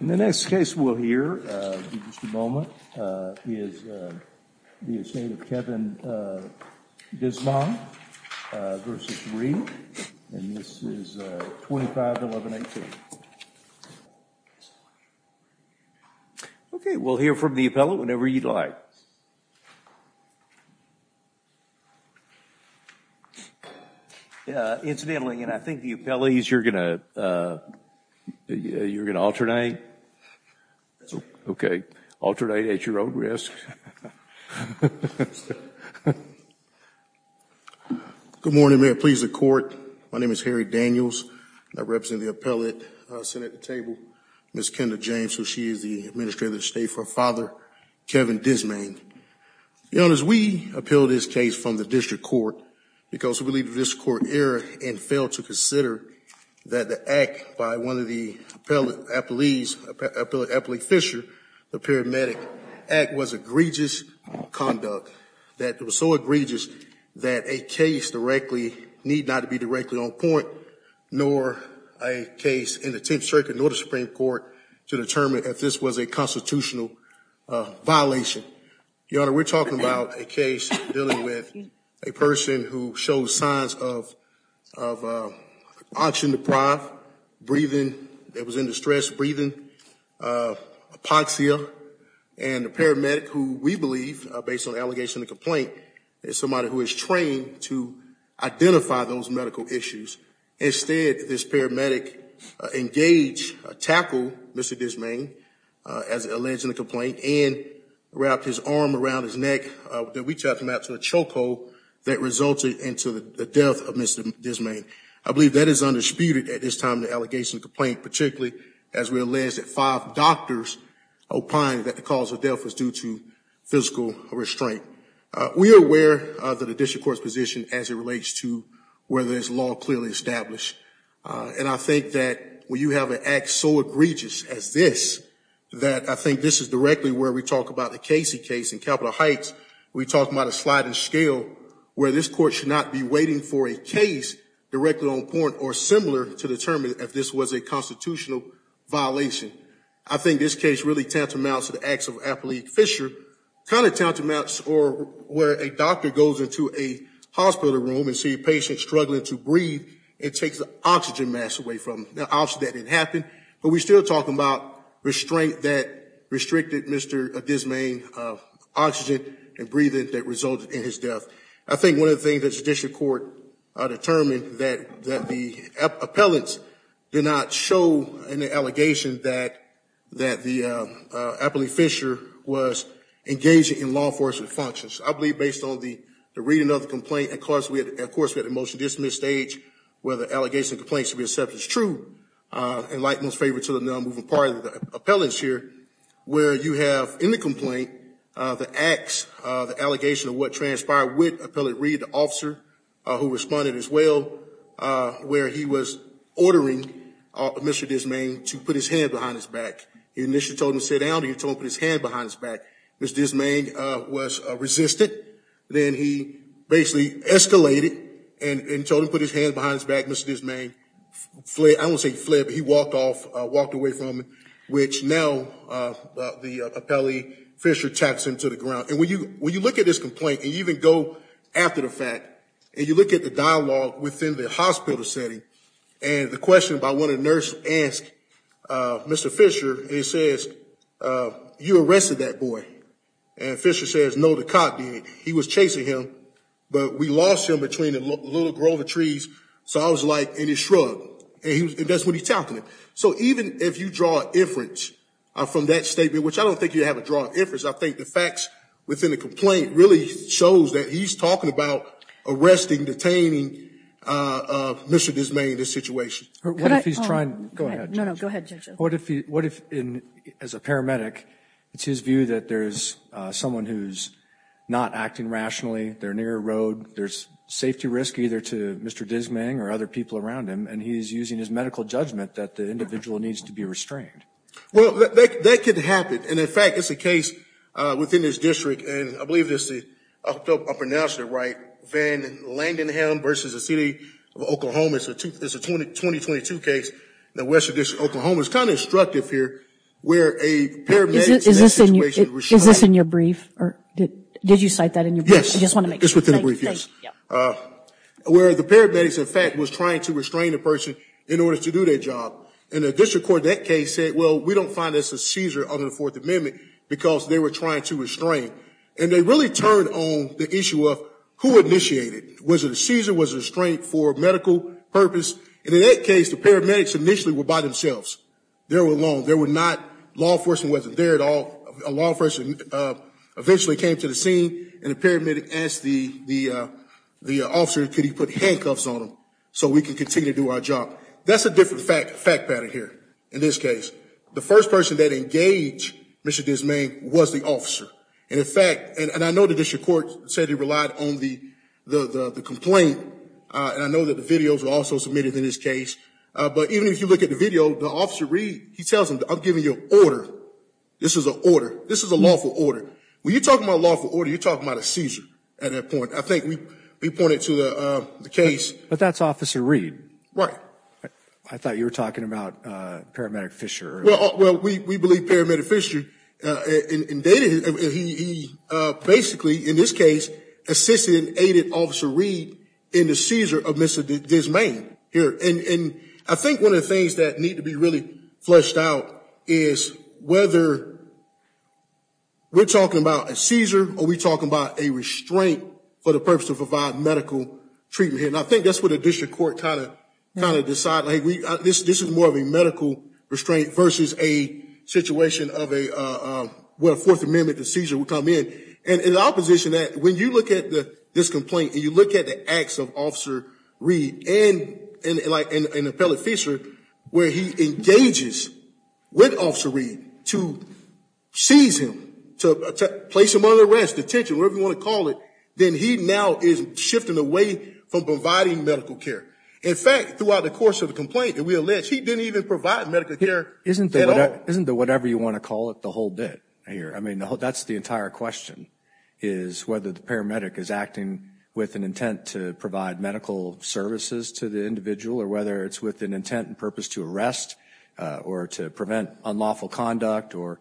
and this is 251118. Okay, we'll hear from the appellate whenever you'd like. Incidentally, and I think the appellate, you're going to, you're going to alternate. Okay, alternate at your own risk. Good morning, may it please the court. My name is Harry Daniels. I represent the appellate sitting at the table, Ms. Kendra James, who she is the administrator of the state for Father Kevin Dizmang. You know, as we appeal this case from the district court, because we believe this court error and failed to consider that the act by one of the appellees, Appellate Fischer, the paramedic act was egregious conduct. That it was so egregious that a case directly, need not to be directly on point, nor a case in the 10th Circuit nor the Supreme Court to determine if this was a constitutional violation. Your Honor, we're talking about a case dealing with a person who shows signs of oxygen deprived, breathing, that was in distress, breathing, apoxia, and the paramedic who we believe, based on the allegation of the complaint, is somebody who is trained to identify those medical issues. Instead, this paramedic engaged, tackled Mr. Dizmang, as alleged in the complaint, and wrapped his arm around his neck. We talked about a choke that resulted into the death of Mr. Dizmang. I believe that is undisputed at this time in the allegation of the complaint, particularly as we allege that five doctors opined that the cause of death was due to physical restraint. We are aware of the district court's position as it relates to whether this law clearly established. And I think that when you have an act so egregious as this, that I think this is directly where we talk about the Casey case in Capital Heights. We talked about a sliding scale where this court should not be waiting for a case directly on point or similar to determine if this was a constitutional violation. I think this case really tantamounts to the acts of Appalachian Fisher, kind of tantamounts to where a doctor goes into a hospital room and sees a patient struggling to breathe and takes the oxygen mask away from them. Now, obviously that didn't happen, but we're still talking about restraint that restricted Mr. Dizmang's oxygen and breathing that resulted in his death. I think one of the things that the district court determined that the appellants did not show in the allegation that the Appalachian Fisher was engaging in law enforcement functions. I believe based on the reading of the complaint, of course, we had a motion to dismiss stage where the allegation and complaint should be accepted as true. And like most favorite to the non-moving party of the appellants here, where you have in the complaint the acts, the allegation of what transpired with Appellant Reed, the officer who responded as well, where he was ordering Mr. Dizmang to put his hand behind his back. He initially told him to sit down and he told him to put his hand behind his back. Mr. Dizmang was resistant. Then he basically escalated and told him to put his hand behind his back. Mr. Dizmang fled. I don't want to say he fled, but he walked off, walked away from him, which now the Appellant Fisher taps him to the ground. And when you look at this complaint and even go after the fact and you look at the dialogue within the hospital setting and the question by one of the nurses asked Mr. Fisher, it says, you arrested that boy. And Fisher says, no, the cop did. He was chasing him, but we lost him between the little grove of trees. So I was like, and he shrugged. And that's what he's talking about. So even if you draw inference from that statement, which I don't think you have a drawn inference, I think the facts within the complaint really shows that he's talking about arresting, detaining Mr. Dizmang in this situation. What if, as a paramedic, it's his view that there's someone who's not acting rationally, they're near a road, there's safety risk either to Mr. Dizmang or other people around him, and he's using his medical judgment that the individual needs to be restrained. Well, that could happen. And in fact, it's a case within this district, and I believe I pronounced it right, Van Landenham versus the City of Oklahoma. It's a 2022 case in the Western District of Oklahoma. It's kind of instructive here where a paramedic... Is this in your brief? Did you cite that in your brief? Yes, it's within the brief, yes. Where the paramedics in fact was trying to restrain the person in order to do their job. And the district court in that case said, well, we don't find this a seizure under the Fourth Amendment, because they were trying to restrain. And they really turned on the issue of who initiated? Was it a seizure? Was it a restraint for medical purpose? And in that case, the paramedics initially were by themselves. They were alone. Law enforcement wasn't there at all. A law enforcement eventually came to the scene and the paramedic asked the officer, could he put handcuffs on him so we could continue to do our job? That's a different fact pattern here. In this case, the first person that engaged Mr. Dismayne was the officer. And in fact, and I know the district court said he relied on the complaint. And I know that the videos were also submitted in this case. But even if you look at the video, the Officer Reed, he tells them, I'm giving you an order. This is an order. This is a lawful order. When you're talking about a lawful order, you're talking about a seizure at that point. I think we pointed to the case. But that's Officer Reed. Right. I thought you were talking about Paramedic Fisher. Well, we believe Paramedic Fisher basically in this case assisted and aided Officer Reed in the seizure of Mr. Dismayne here. I think one of the things that need to be really fleshed out is whether we're talking about a seizure or we're talking about a restraint for the purpose of providing medical treatment here. And I think that's what the district court kind of decided. This is more of a medical restraint versus a situation of where a Fourth Amendment seizure would come in. And in opposition to that, when you look at this complaint and you look at the acts of Officer Reed and Appellate Fisher, where he engages with Officer Reed to seize him, to place him under arrest, detention, whatever you want to call it, then he now is shifting away from providing medical care. In fact, throughout the course of the complaint, and we allege he didn't even provide medical care at all. Isn't the whatever you want to call it the whole bit here? I mean, that's the entire question is whether the paramedic is acting with an intent to provide medical services to the individual or whether it's with an intent and purpose to arrest or to prevent unlawful conduct or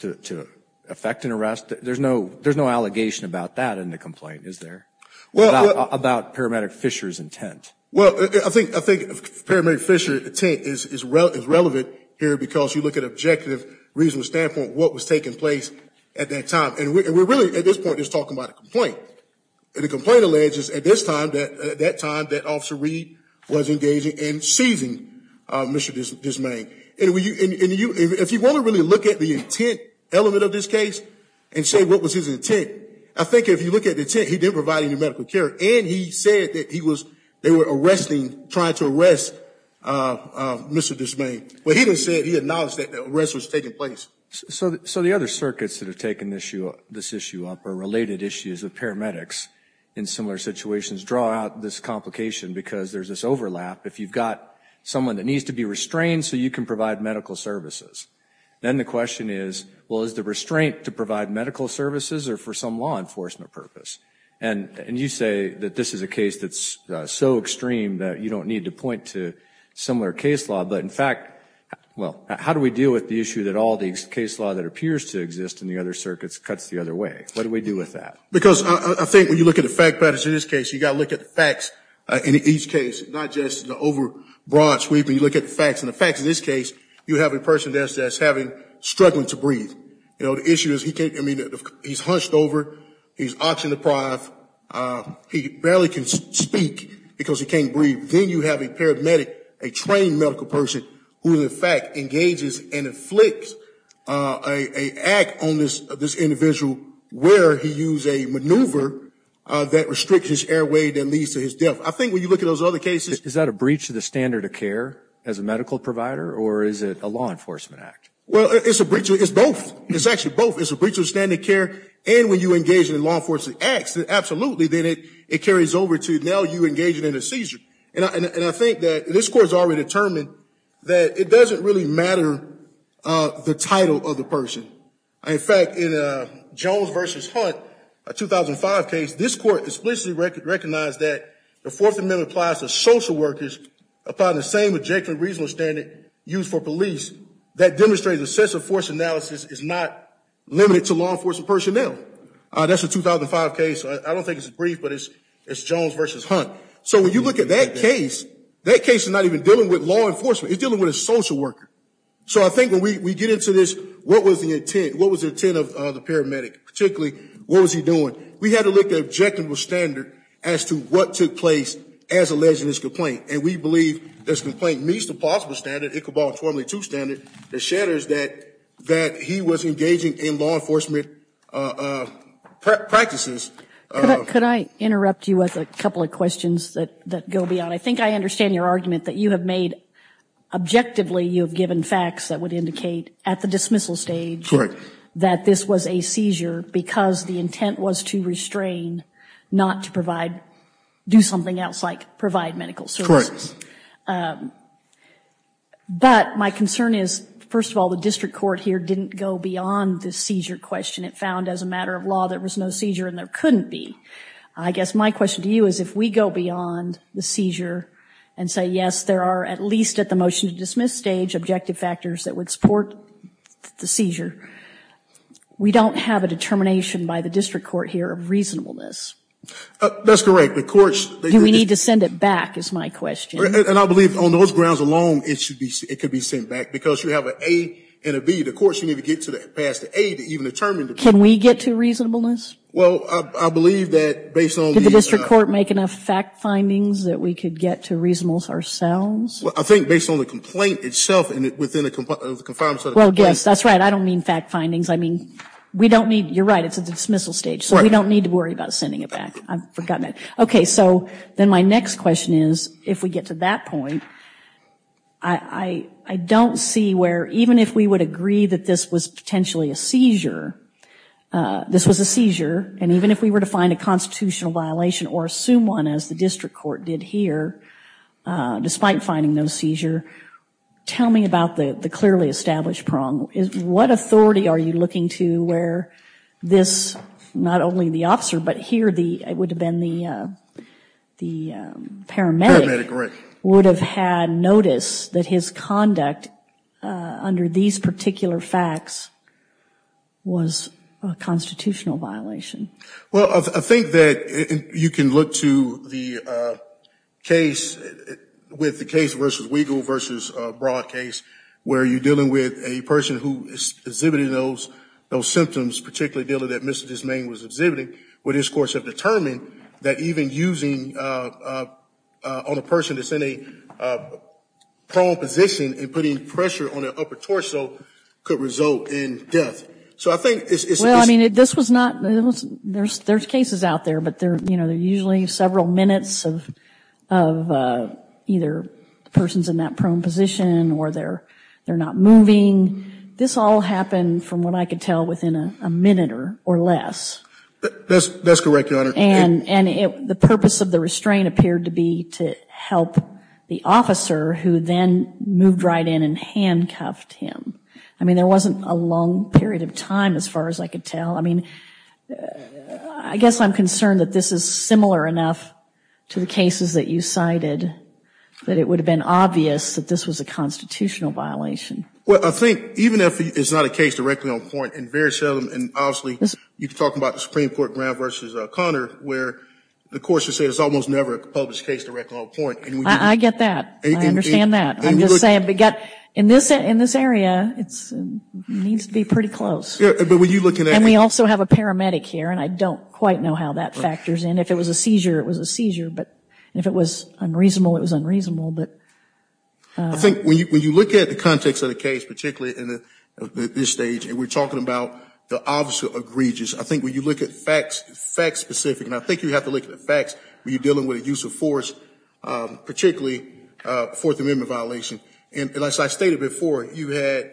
to affect an arrest. There's no there's no allegation about that in the complaint, is there, about paramedic Fisher's intent? Well, I think paramedic Fisher's intent is relevant here because you look at from an executive reasonable standpoint what was taking place at that time. And we're really at this point just talking about a complaint. And the complaint alleges at this time that at that time that Officer Reed was engaging in seizing Mr. Dismayne. And if you want to really look at the intent element of this case and say what was his intent, I think if you look at the intent, he didn't provide any medical care. And he said that he was they were arresting trying to arrest Mr. Dismayne. Well, he didn't say he acknowledged that the arrest was taking place. So the other circuits that have taken this issue up are related issues of paramedics in similar situations draw out this complication because there's this overlap. If you've got someone that needs to be restrained so you can provide medical services, then the question is, well, is the restraint to provide medical services or for some law enforcement purpose? And you say that this is a case that's so extreme that you don't need to point to similar case law. But in fact, well, how do we deal with the issue that all these case law that appears to exist in the other circuits cuts the other way? What do we do with that? Because I think when you look at the fact patterns in this case, you got to look at the facts in each case, not just the over broad sweeping look at the facts and the facts. In this case, you have a person that's having struggling to breathe. You know, the issue is he can't. I mean, he's hunched over. He's oxygen deprived. He barely can speak because he can't breathe. Then you have a paramedic, a trained medical person who, in fact, engages and inflicts a act on this individual where he used a maneuver that restricts his airway that leads to his death. I think when you look at those other cases Is that a breach of the standard of care as a medical provider or is it a law enforcement act? Well, it's a breach. It's both. It's actually both. It's a breach of standard care. And when you engage in law enforcement acts, absolutely. Then it carries over to now you engage in a seizure. And I think that this court has already determined that it doesn't really matter the title of the person. In fact, in Jones versus Hunt, a 2005 case, this court explicitly recognized that the Fourth Amendment applies to social workers upon the same objective and reasonable standard used for police that demonstrates excessive force analysis is not limited to law enforcement personnel. That's a 2005 case. I don't think it's brief, but it's Jones versus Hunt. So when you look at that case, that case is not even dealing with law enforcement. It's dealing with a social worker. So I think when we get into this, what was the intent? What was the intent of the paramedic? Particularly, what was he doing? We had to look at an objective standard as to what took place as alleged in this complaint. And we believe this complaint meets the possible standard, Iqbal 202 standard, that shatters that he was engaging in law enforcement practices. Could I interrupt you with a couple of questions that go beyond? I think I understand your argument that you have made, objectively, you have given facts that would indicate at the dismissal stage that this was a seizure because the intent was to restrain, not to provide, do something else like provide medical services. But my concern is, first of all, the district court here didn't go beyond the seizure question. It found as a matter of law there was no seizure and there couldn't be. I guess my question to you is if we go beyond the seizure and say, yes, there are, at least at the motion to dismiss stage, objective factors that would support the seizure, we don't have a determination by the district court here of reasonableness. That's correct. The courts Do we need to send it back is my question. And I believe on those grounds alone it could be sent back because you have an A and a B. The courts need to get past the A to even determine. Can we get to reasonableness? Well, I believe that based on. Did the district court make enough fact findings that we could get to reasonableness ourselves? Well, I think based on the complaint itself and within the confines of the complaint. Well, yes, that's right. I don't mean fact findings. I mean, we don't need, you're right, it's at the dismissal stage. So we don't need to worry about sending it back. I've forgotten that. Okay, so then my next question is, if we get to that point, I don't see where even if we would agree that this was potentially a seizure, this was a seizure, and even if we were to find a constitutional violation or assume one, as the district court did here, despite finding no seizure, tell me about the clearly established prong. What authority are you looking to where this not only the officer, but here it would have been the paramedic would have had notice that his conduct under these particular facts was a constitutional violation? Well, I think that you can look to the case, with the case versus Weigel versus Broad case, where you're dealing with a person who is exhibiting those symptoms, particularly the one that Mr. DesMaine was exhibiting, where these courts have determined that even using on a person that's in a prone position and putting pressure on their upper torso could result in death. So I think it's... Well, I mean, this was not, there's cases out there, but they're usually several minutes of either the person's in that prone position or they're not moving. This all happened, from what I could tell, within a minute or less. That's correct, Your Honor. And the purpose of the restraint appeared to be to help the officer who then moved right in and handcuffed him. I mean, there wasn't a long period of time, as far as I could tell. I mean, I guess I'm concerned that this is similar enough to the cases that you cited that it would have been obvious that this was a constitutional violation. Well, I think, even if it's not a case directly on point, and very seldom, and obviously you could talk about the Supreme Court Brown versus Connor, where the courts would say it's almost never a published case directly on point. I get that. I understand that. I'm just saying, in this area, it needs to be pretty close. And we also have a paramedic here, and I don't quite know how that factors in. If it was a seizure, it was a seizure. But if it was unreasonable, it was unreasonable. I think when you look at the context of the case, particularly at this stage, and we're talking about the officer egregious, I think when you look at facts, facts specific, and I think you have to look at the facts when you're dealing with a use of force, particularly a Fourth Amendment violation. And as I stated before, you had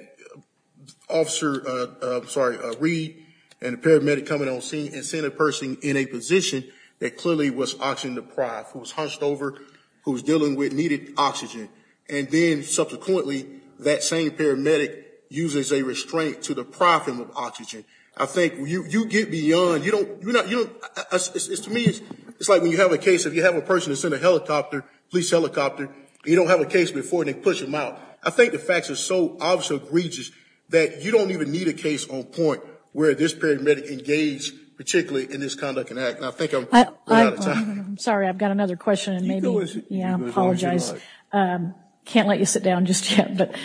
Officer, I'm sorry, Reed and a paramedic coming on scene and seeing a person in a position that clearly was oxygen deprived, who was hunched over, who was dealing with needed oxygen. And then subsequently, that same paramedic uses a restraint to deprive him of oxygen. I think you get beyond, you don't, to me, it's like when you have a case, if you have a person that's in a helicopter, police helicopter, and you don't have a case before, and they push them out. I think the facts are so obviously egregious that you don't even need a case on point where this paramedic engaged particularly in this conduct and act. And I think I'm running out of time. I'm sorry, I've got another question, and maybe, yeah, I apologize. Can't let you sit down just yet.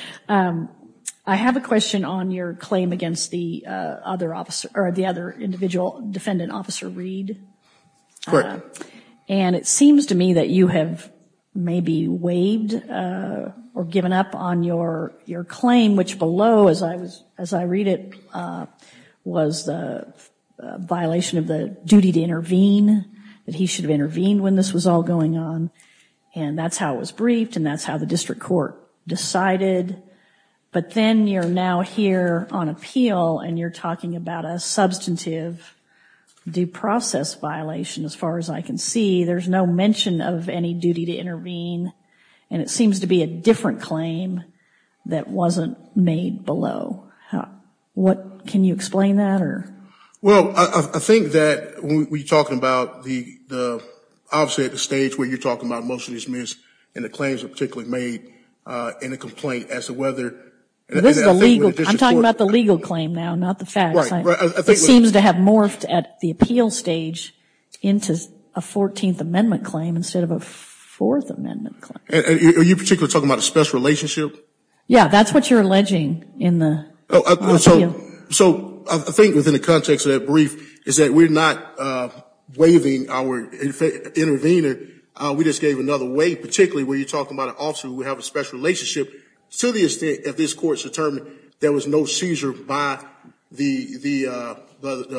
I have a question on your claim against the other individual, Defendant Officer Reed. And it seems to me that you have maybe waived or given up on your claim, which below, as I read it, was the violation of the duty to intervene, that he should have intervened when this was all going on. And that's how it was briefed, and that's how the district court decided. But then you're now here on appeal, and you're talking about a substantive due process violation, as far as I can see. There's no mention of any duty to intervene, and it seems to be a different claim that wasn't made below. Can you explain that? Well, I think that when you're talking about the obviously at the stage where you're talking about motion is missed, and the claims are particularly made in a complaint as to whether... I'm talking about the legal claim now, not the facts. It seems to have morphed at the appeal stage into a 14th Amendment claim instead of a 4th Amendment claim. Are you particularly talking about a special relationship? Yeah, that's what you're alleging in the appeal. I think within the context of that brief is that we're not waiving our intervener. We just gave another waive, particularly when you're talking about an officer who would have a special relationship to the extent that this court's determined there was no seizure by the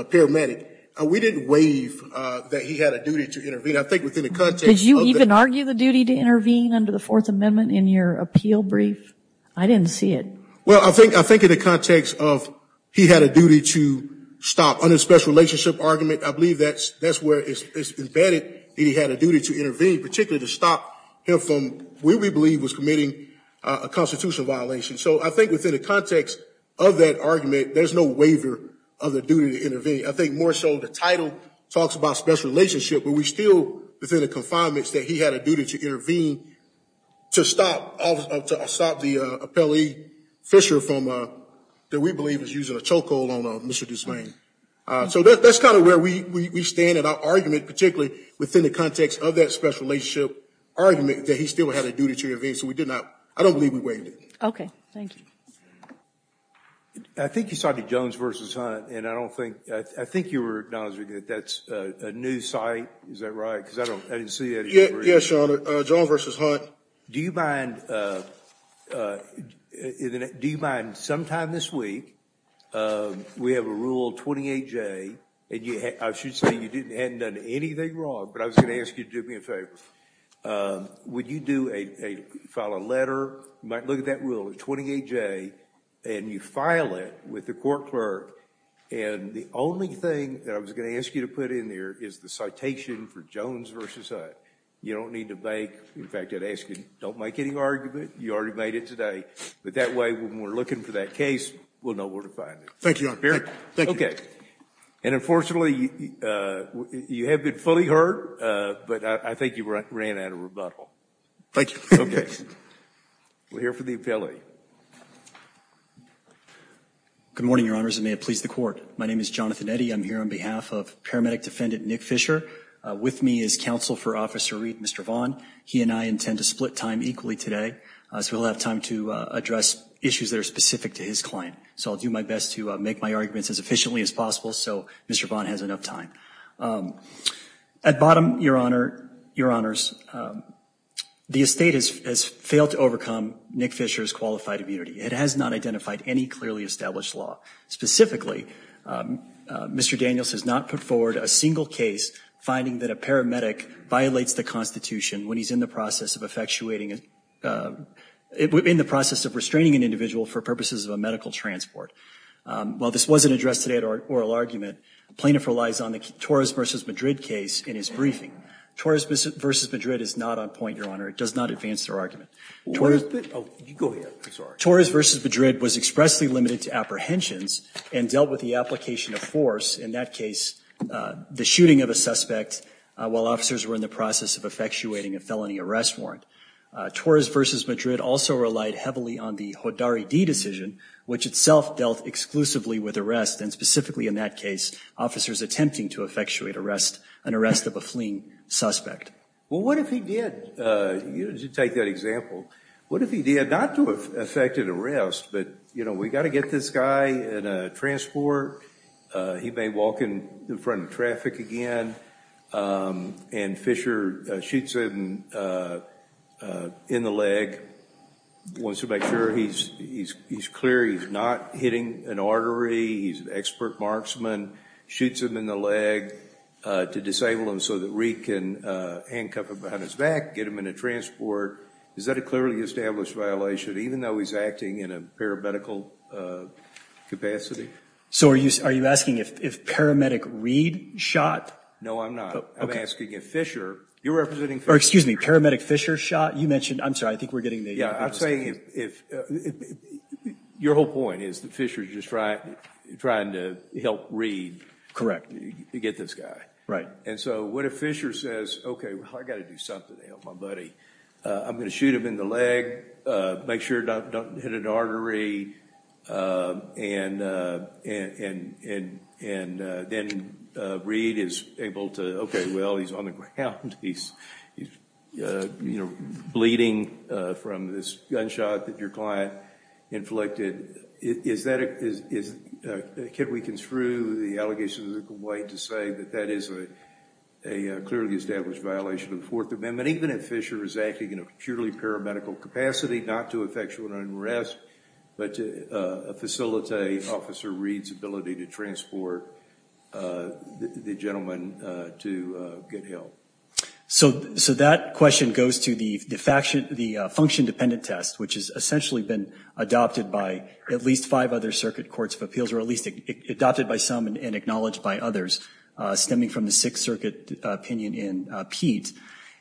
paramedic. We didn't waive that he had a duty to intervene. Did you even argue the duty to intervene under the 4th Amendment in your appeal brief? I didn't see it. Well, I think in the context of he had a duty to stop on his special relationship argument, I believe that's where it's embedded that he had a duty to intervene, particularly to stop him from what we believe was committing a constitutional violation. So I think within the context of that argument, there's no waiver of the duty to intervene. I think more so the title talks about special relationship, but we still within the confinements that he had a duty to intervene to stop the appellee, Fisher, from what we believe is using a chokehold on Mr. Duesvain. So that's kind of where we stand in our argument, particularly within the context of that special relationship argument that he still had a duty to intervene. So we did not, I don't believe we waived it. Okay. Thank you. I think you saw the Jones v. Hunt, and I think you were acknowledging that that's a new site. Is that right? Yes, Your Honor. Jones v. Hunt. Do you mind sometime this week, we have a Rule 28J, and I should say you hadn't done anything wrong, but I was going to ask you to do me a favor. Would you file a letter, you might look at that Rule 28J, and you file it with the court clerk, and the only thing that I was going to ask you to put in there is the citation for Jones v. Hunt. You don't need to make, in fact, I'd ask you don't make any argument. You already made it today. But that way when we're looking for that case, we'll know where to find it. Thank you, Your Honor. Okay. And unfortunately, you have been fully heard, but I think you ran out of rebuttal. Thank you. We'll hear from the appellee. Good morning, Your Honors, and may it please the Court. My name is Jonathan Eddy. I'm here on behalf of Paramedic Defendant Nick Fisher. With me is Counsel for Officer Reed, Mr. Vaughn. He and I intend to split time equally today, so we'll have time to address issues that are specific to his client. So I'll do my best to make my arguments as efficiently as possible so Mr. Vaughn has enough time. At bottom, Your Honor, Your Honors, the estate has failed to overcome Nick Fisher's qualified immunity. It has not identified any clearly established law. Specifically, Mr. Daniels has not put forward a single case finding that a paramedic violates the Constitution when he's in the process of effectuating in the process of restraining an individual for purposes of a medical transport. While this wasn't addressed today at oral argument, plaintiff relies on the Torres versus Madrid case in his briefing. Torres versus Madrid is not on point, Your Honor. It does not advance their argument. Torres versus Madrid was expressly limited to apprehensions and dealt with the application of force. In that case, the shooting of a suspect while officers were in the process of effectuating a felony arrest warrant. Torres versus Madrid also relied heavily on the Hodari D decision, which itself dealt exclusively with arrest, and specifically in that case, officers attempting to effectuate an arrest of a fleeing suspect. Well, what if he did, to take that example, what if he did not to effect an arrest, but, you know, we've got to get this guy in a transport, he may walk in front of traffic again, and Fisher shoots him in the leg, wants to make sure he's clear he's not hitting an artery, he's an expert marksman, shoots him in the leg to disable him so that Reid can handcuff him behind his back, get him in a transport. Is that a clearly established violation, even though he's acting in a paramedical capacity? So are you asking if paramedic Reid shot? No, I'm not. I'm asking if Fisher, you're representing, or excuse me, paramedic Fisher shot, you mentioned, I'm sorry, I think we're getting the, yeah, I'm saying if, your whole point is that Fisher's just trying to help Reid, correct, get this guy. Right. And so what if Fisher says, okay, well, I've got to do something to help my buddy. I'm going to shoot him in the leg, make sure I don't hit an artery, and then Reid is able to, okay, well, he's on the ground, he's, you know, bleeding from this gunshot that your client inflicted. Is that, can we construe the allegations of the way to say that that is a clearly established violation of the Fourth Amendment, even if Fisher is acting in a purely paramedical capacity, not to effectual unrest, but to facilitate Officer Reid's ability to transport the gentleman to get help? So that question goes to the function-dependent test, which has essentially been adopted by at least five other circuit courts of appeals, or at least adopted by some and acknowledged by others, stemming from the Sixth Circuit opinion in Pete.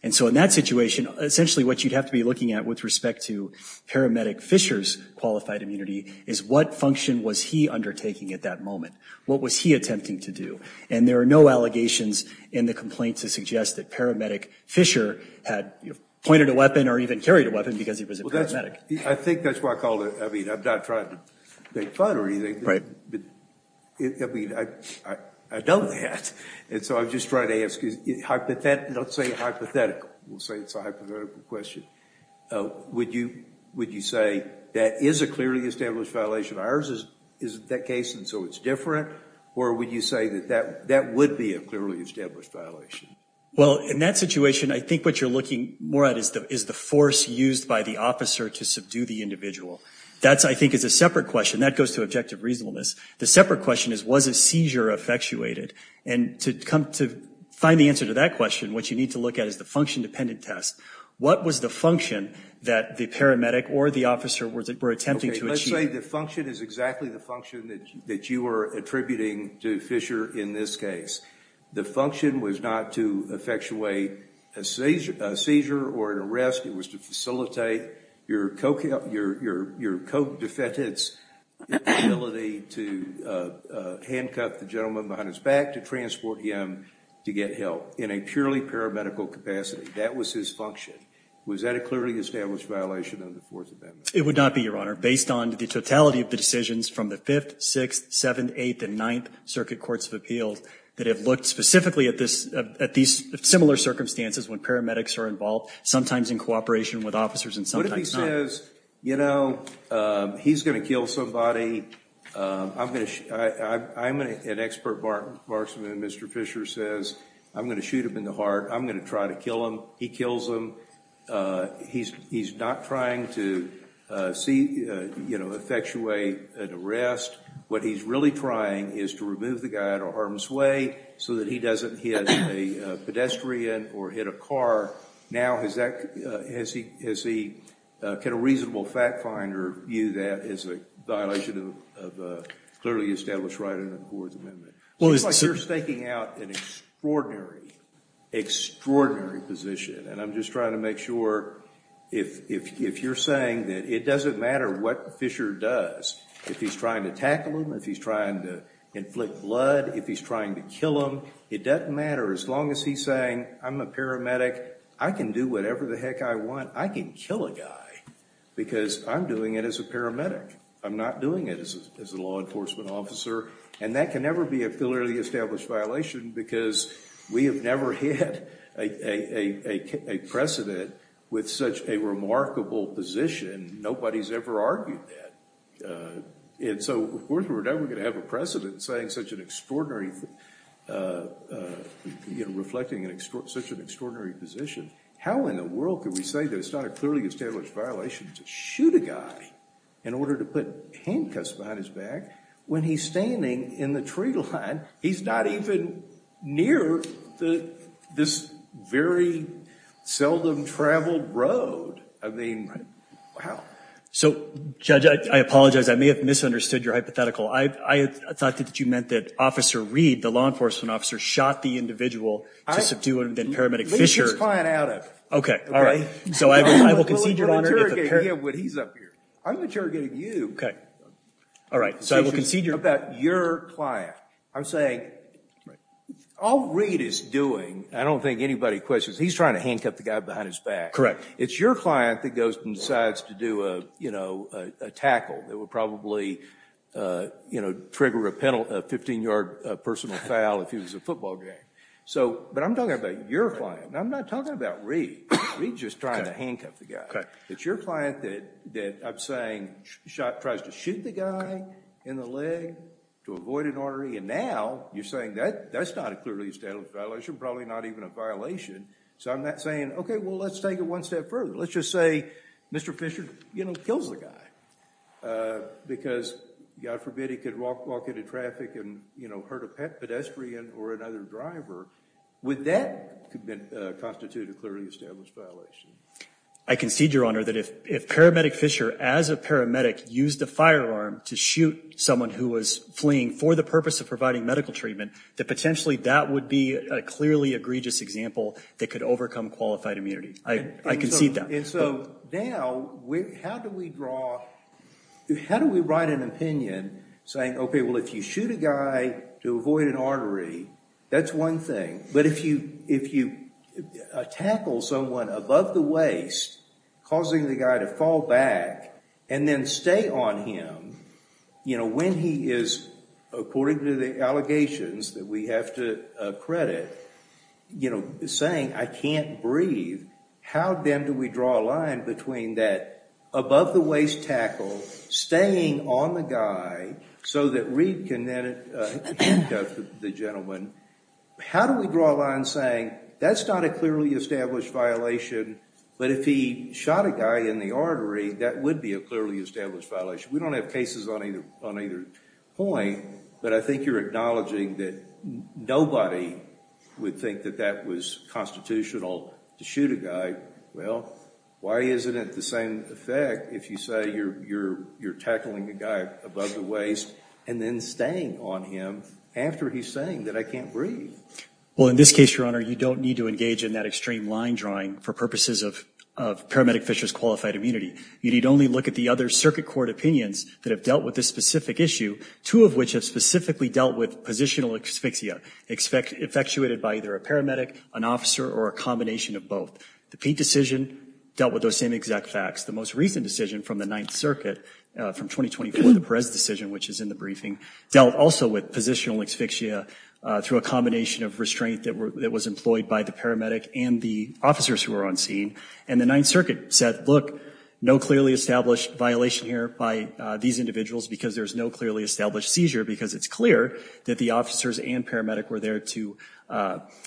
And so in that situation, essentially what you'd have to be looking at with respect to paramedic Fisher's qualified immunity is what function was he undertaking at that moment? What was he attempting to do? And there are no allegations in the complaint to suggest that paramedic Fisher had pointed a weapon or even carried a weapon because he was a paramedic. I think that's why I called it, I mean, I'm not trying to make fun or anything. I mean, I know that. And so I'm just trying to ask, don't say hypothetical, we'll say it's a hypothetical question. Would you say that is a clearly established violation? Ours isn't that case, and so it's different? Or would you say that that would be a clearly established violation? Well, in that situation, I think what you're looking more at is the force used by the officer to subdue the individual. That, I think, is a separate question. That goes to objective reasonableness. The separate question is, was a seizure effectuated? And to find the answer to that question, what you need to look at is the function-dependent test. What was the function that the paramedic or the officer were attempting to achieve? Let's say the function is exactly the function that you are attributing to Fisher in this case. The function was not to effectuate a seizure or an arrest. It was to facilitate your co-defendant's ability to handcuff the gentleman behind his back to transport him to get help in a purely paramedical capacity. That was his function. Was that a clearly established violation of the Fourth Amendment? It would not be, Your Honor, based on the totality of the decisions from the Fifth, Sixth, Seventh, Eighth, and Ninth Circuit Courts of Appeals that have looked specifically at these similar circumstances when paramedics are involved, sometimes in cooperation with officers and sometimes not. Mr. Fisher says, you know, he's going to kill somebody. I'm an expert marksman. Mr. Fisher says, I'm going to shoot him in the heart. I'm going to try to kill him. He kills him. He's not trying to effectuate an arrest. What he's really trying is to remove the guy out of harm's way so that he doesn't hit a pedestrian or hit a car. Now, has he got a reasonable fact finder view that as a violation of a clearly established right under the Fourth Amendment? It seems like you're staking out an extraordinary, extraordinary position. And I'm just trying to make sure if you're saying that it doesn't matter what Fisher does, if he's trying to tackle him, if he's trying to inflict blood, if he's trying to kill him, it doesn't matter. As long as he's saying, I'm a paramedic. I can do whatever the heck I want. I can kill a guy because I'm doing it as a paramedic. I'm not doing it as a law enforcement officer. And that can never be a clearly established violation because we have never hit a precedent with such a remarkable position. Nobody's ever argued that. And so we're never going to have a precedent saying such an extraordinary, reflecting such an extraordinary position. How in the world can we say that it's not a clearly established violation to shoot a guy in order to put handcuffs behind his back when he's standing in the tree line? He's not even near this very seldom-traveled road. I mean, how? So, Judge, I apologize. I may have misunderstood your hypothetical. I thought that you meant that Officer Reed, the law enforcement officer, shot the individual to subdue and then paramedic Fisher. Let's just find out. Okay. All right. So I will concede your honor. We'll interrogate him when he's up here. I'm interrogating you. Okay. All right. So I'm talking about your client. I'm saying all Reed is doing, I don't think anybody questions, he's trying to handcuff the guy behind his back. Correct. It's your client that goes and decides to do a tackle that would probably trigger a 15-yard personal foul if he was a football game. But I'm talking about your client. I'm not talking about Reed. Reed's just trying to handcuff the guy. Okay. It's your client that I'm saying tries to shoot the guy in the leg to avoid an artery. And now you're saying that's not a clearly established violation, probably not even a violation. So I'm not saying, okay, well, let's take it one step further. Let's just say Mr. Fisher kills the guy because, God forbid, he could walk into traffic and hurt a pedestrian or another driver. Would that constitute a clearly established violation? I concede, Your Honor, that if paramedic Fisher, as a paramedic, used a firearm to shoot someone who was fleeing for the purpose of providing medical treatment, that potentially that would be a clearly egregious example that could overcome qualified immunity. I concede that. And so now, how do we draw, how do we write an opinion saying, okay, well, if you shoot a guy to avoid an artery, that's one thing. But if you tackle someone above the waist causing the guy to fall back and then stay on him, when he is, according to the allegations that we have to credit, saying, I can't breathe, how then do we draw a line between that above the waist tackle, staying on the guy so that Reid can then handcuff the gentleman? How do we draw a line saying, that's not a clearly established violation, but if he shot a guy in the artery, that would be a clearly established violation? We don't have cases on either point, but I think you're acknowledging that nobody would think that that was constitutional to shoot a guy. Well, why isn't it the same effect if you say you're tackling a guy above the waist and then staying on him after he's saying that I can't breathe? Well, in this case, Your Honor, you don't need to engage in that extreme line drawing for purposes of Paramedic Fisher's qualified immunity. You need only look at the other circuit court opinions that have dealt with this specific issue, two of which have specifically dealt with positional asphyxia effectuated by either a paramedic, an officer, or a combination of both. The Peete decision dealt with those same exact facts. The most recent decision from the Ninth Circuit from 2024, the Perez decision, which is in the briefing, dealt also with positional asphyxia through a combination of restraint that was employed by the paramedic and the officers who were on scene. And the Ninth Circuit said, look, no clearly established violation here by these individuals because there's no clearly established seizure because it's clear that the officers and paramedic were there to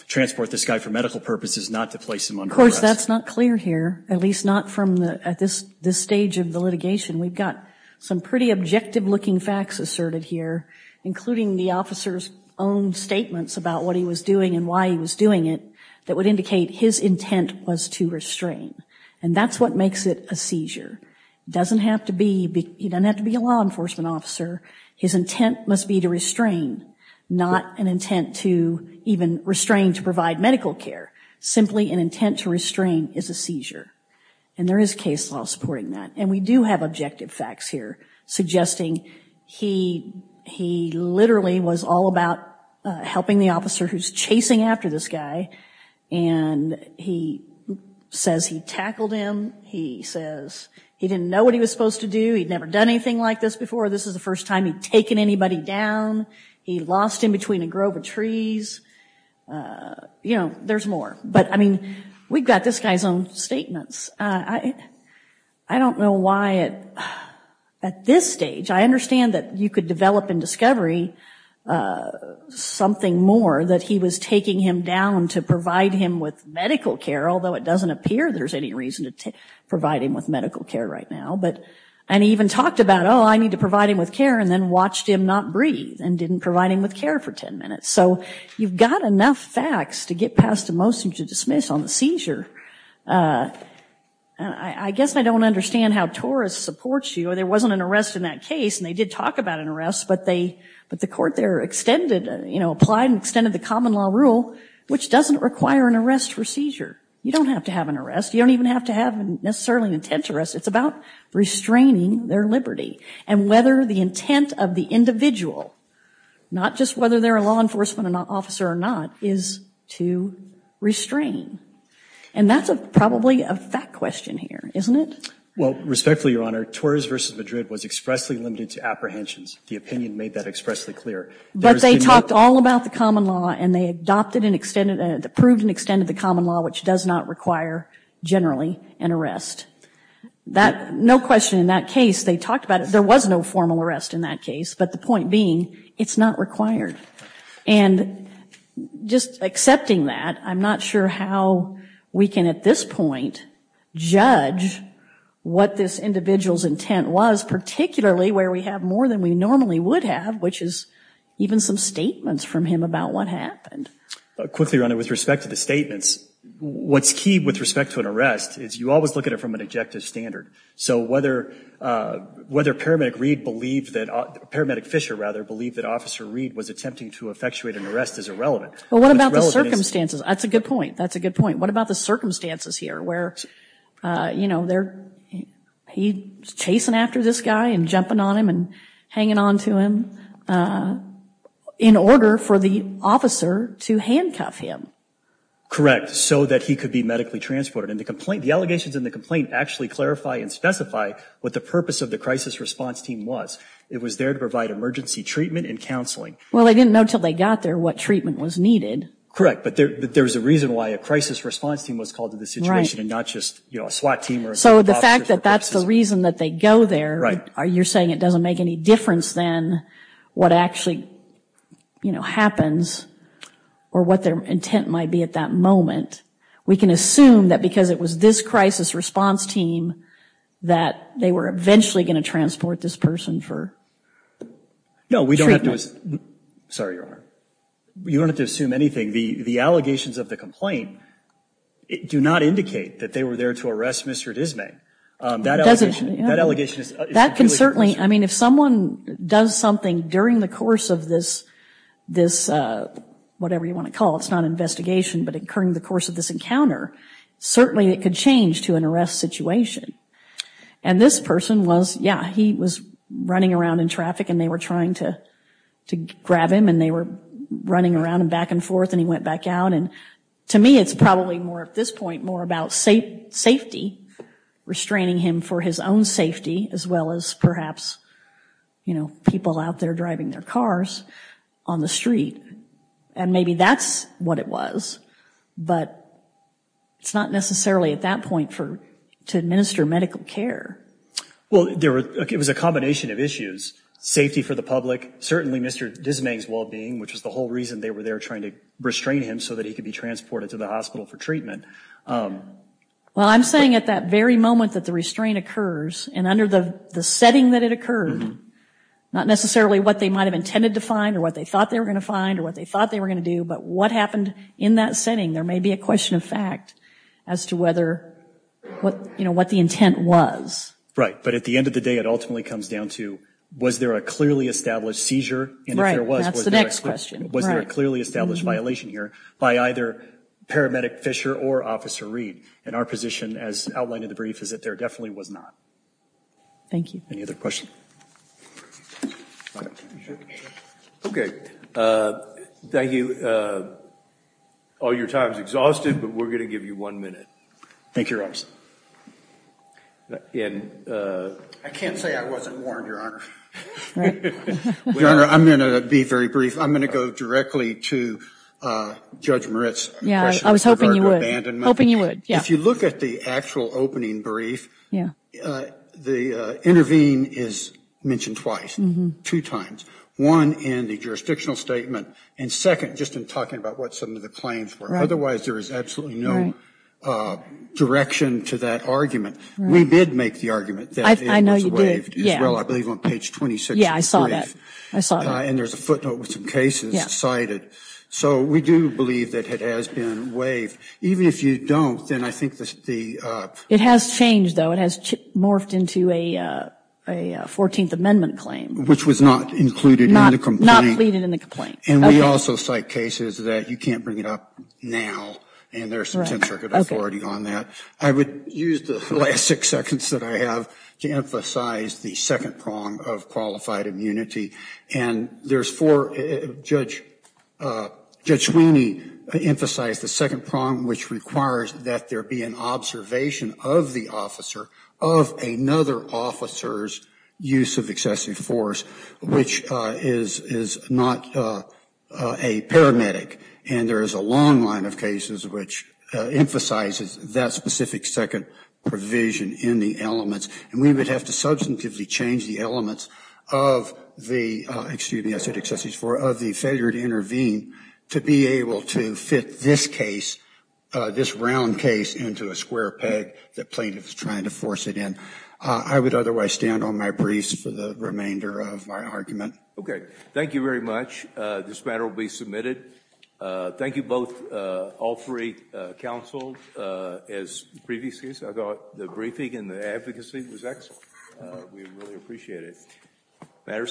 transport this guy for medical purposes, not to place him under arrest. Of course, that's not clear here, at least not from this stage of the litigation. We've got some pretty objective looking facts asserted here, including the officer's own statements about what he was doing and why he was trying to restrain. And that's what makes it a seizure. He doesn't have to be a law enforcement officer. His intent must be to restrain, not an intent to even restrain to provide medical care. Simply an intent to restrain is a seizure. And there is case law supporting that. And we do have objective facts here suggesting he literally was all about helping the officer who's chasing after this guy. And he says he tackled him. He says he didn't know what he was supposed to do. He'd never done anything like this before. This is the first time he'd taken anybody down. He lost him between a grove of trees. You know, there's more. But I mean, we've got this guy's own statements. I don't know why at this stage, I understand that you could develop in discovery something more that he was taking him down to provide him with medical care, although it doesn't appear there's any reason to provide him with medical care right now. And he even talked about, oh, I need to provide him with care and then watched him not breathe and didn't provide him with care for ten minutes. So you've got enough facts to get past a motion to dismiss on the seizure. I guess I don't understand how TORUS supports you. There wasn't an arrest in that case, and they did talk about an arrest, but the court there extended, you know, applied and extended the common law rule, which doesn't require an arrest for seizure. You don't have to have an arrest. You don't even have to have necessarily an intent to arrest. It's about restraining their liberty and whether the intent of the individual, not just whether they're a law enforcement officer or not, is to restrain. And that's probably a fact question here, isn't it? Well, respectfully, Your Honor, TORUS v. Madrid was expressly limited to apprehensions. The opinion made that expressly clear. But they talked all about the common law, and they adopted and extended, approved and extended the common law, which does not require generally an arrest. No question in that case, they talked about it. There was no formal arrest in that case. But the point being, it's not required. And just accepting that, I'm not sure how we can at this point judge what this individual's intent was, particularly where we have more than we normally would have, which is even some statements from him about what happened. Quickly, Your Honor, with respect to the statements, what's key with respect to an arrest is you always look at it from an objective standard. So whether Paramedic Reed believed that, Paramedic Fisher, rather, believed that Officer Reed was attempting to effectuate an arrest is irrelevant. But what about the circumstances? That's a good point. That's a good point. What about the circumstances here where he's chasing after this guy and jumping on him and hanging on to him in order for the officer to handcuff him? Correct. So that he could be medically transported. And the allegations in the complaint actually clarify and specify what the purpose of the crisis response team was. It was there to provide emergency treatment and counseling. Well, they didn't know until they got there what treatment was needed. Correct. But there was a reason why a crisis response team was called to the situation and not just a SWAT team. So the fact that that's the reason that they go there, you're saying it doesn't make any difference than what actually happens or what their intent might be at that moment. We can assume that because it was this crisis response team that they were eventually going to transport this person for treatment. No, we don't have to assume anything. The allegations of the complaint do not indicate that they were there to arrest Mr. Dismay. That can certainly, I mean, if someone does something during the course of this, whatever you want to call it, it's not an investigation, but during the course of this encounter, certainly it could change to an arrest situation. And this person was, yeah, he was running around in traffic and they were trying to grab him and they were running around and back and forth and he went back out. And to me, it's probably more at this point more about safety, restraining him for his own safety as well as perhaps people out there driving their cars on the street. And maybe that's what it was, but it's not necessarily at that point to administer medical care. Well, it was a combination of issues. Safety for the public, certainly Mr. Dismay's well-being, which was the whole reason they were there trying to restrain him so that he could be transported to the hospital for treatment. Well, I'm saying at that very moment that the restraint occurs and under the setting that it occurred, not necessarily what they might have intended to find or what they thought they were going to find or what they thought they were going to do, but what happened in that setting, there may be a question of fact as to what the intent was. Right. But at the end of the day, it ultimately comes down to was there a clearly established seizure? And if there was, was there a clearly established violation here by either Paramedic Fisher or Officer Reed? And our position as outlined in the brief is that there definitely was not. Thank you. Any other questions? Okay. Thank you. All your time is exhausted, but we're going to give you one minute. Thank you, Your Honor. I can't say I wasn't warned, Your Honor. Your Honor, I'm going to be very brief. I'm going to go directly to Judge Moritz. I was hoping you would. If you look at the actual opening brief, the intervene is mentioned twice, two times. One in the jurisdictional statement, and second, just in talking about what some of the claims were. Otherwise, there is absolutely no direction to that argument. We did make the argument that it was waived as well, I believe on page 26 of the brief. And there's a footnote with some cases cited. So we do believe that it has been waived. Even if you don't, then I think the... It has changed, though. It has morphed into a 14th Amendment claim. Which was not included in the complaint. Not pleaded in the complaint. And we also cite cases that you can't bring it up now. And there's some 10th Circuit authority on that. I would use the last six seconds that I have to emphasize the second prong of qualified immunity. Judge Sweeney emphasized the second prong, which requires that there be an observation of the officer of another officer's use of excessive force. Which is not a paramedic. And there is a long line of cases which emphasizes that specific second provision in the elements. And we would have to substantively change the elements of the failure to intervene to be able to fit this case, this round case, into a square peg that plaintiff is trying to force it in. I would otherwise stand on my briefs for the remainder of my argument. Okay. Thank you very much. This matter will be submitted. Thank you both, all three counsels, as previously. I thought the briefing and the advocacy was excellent. We really appreciate it.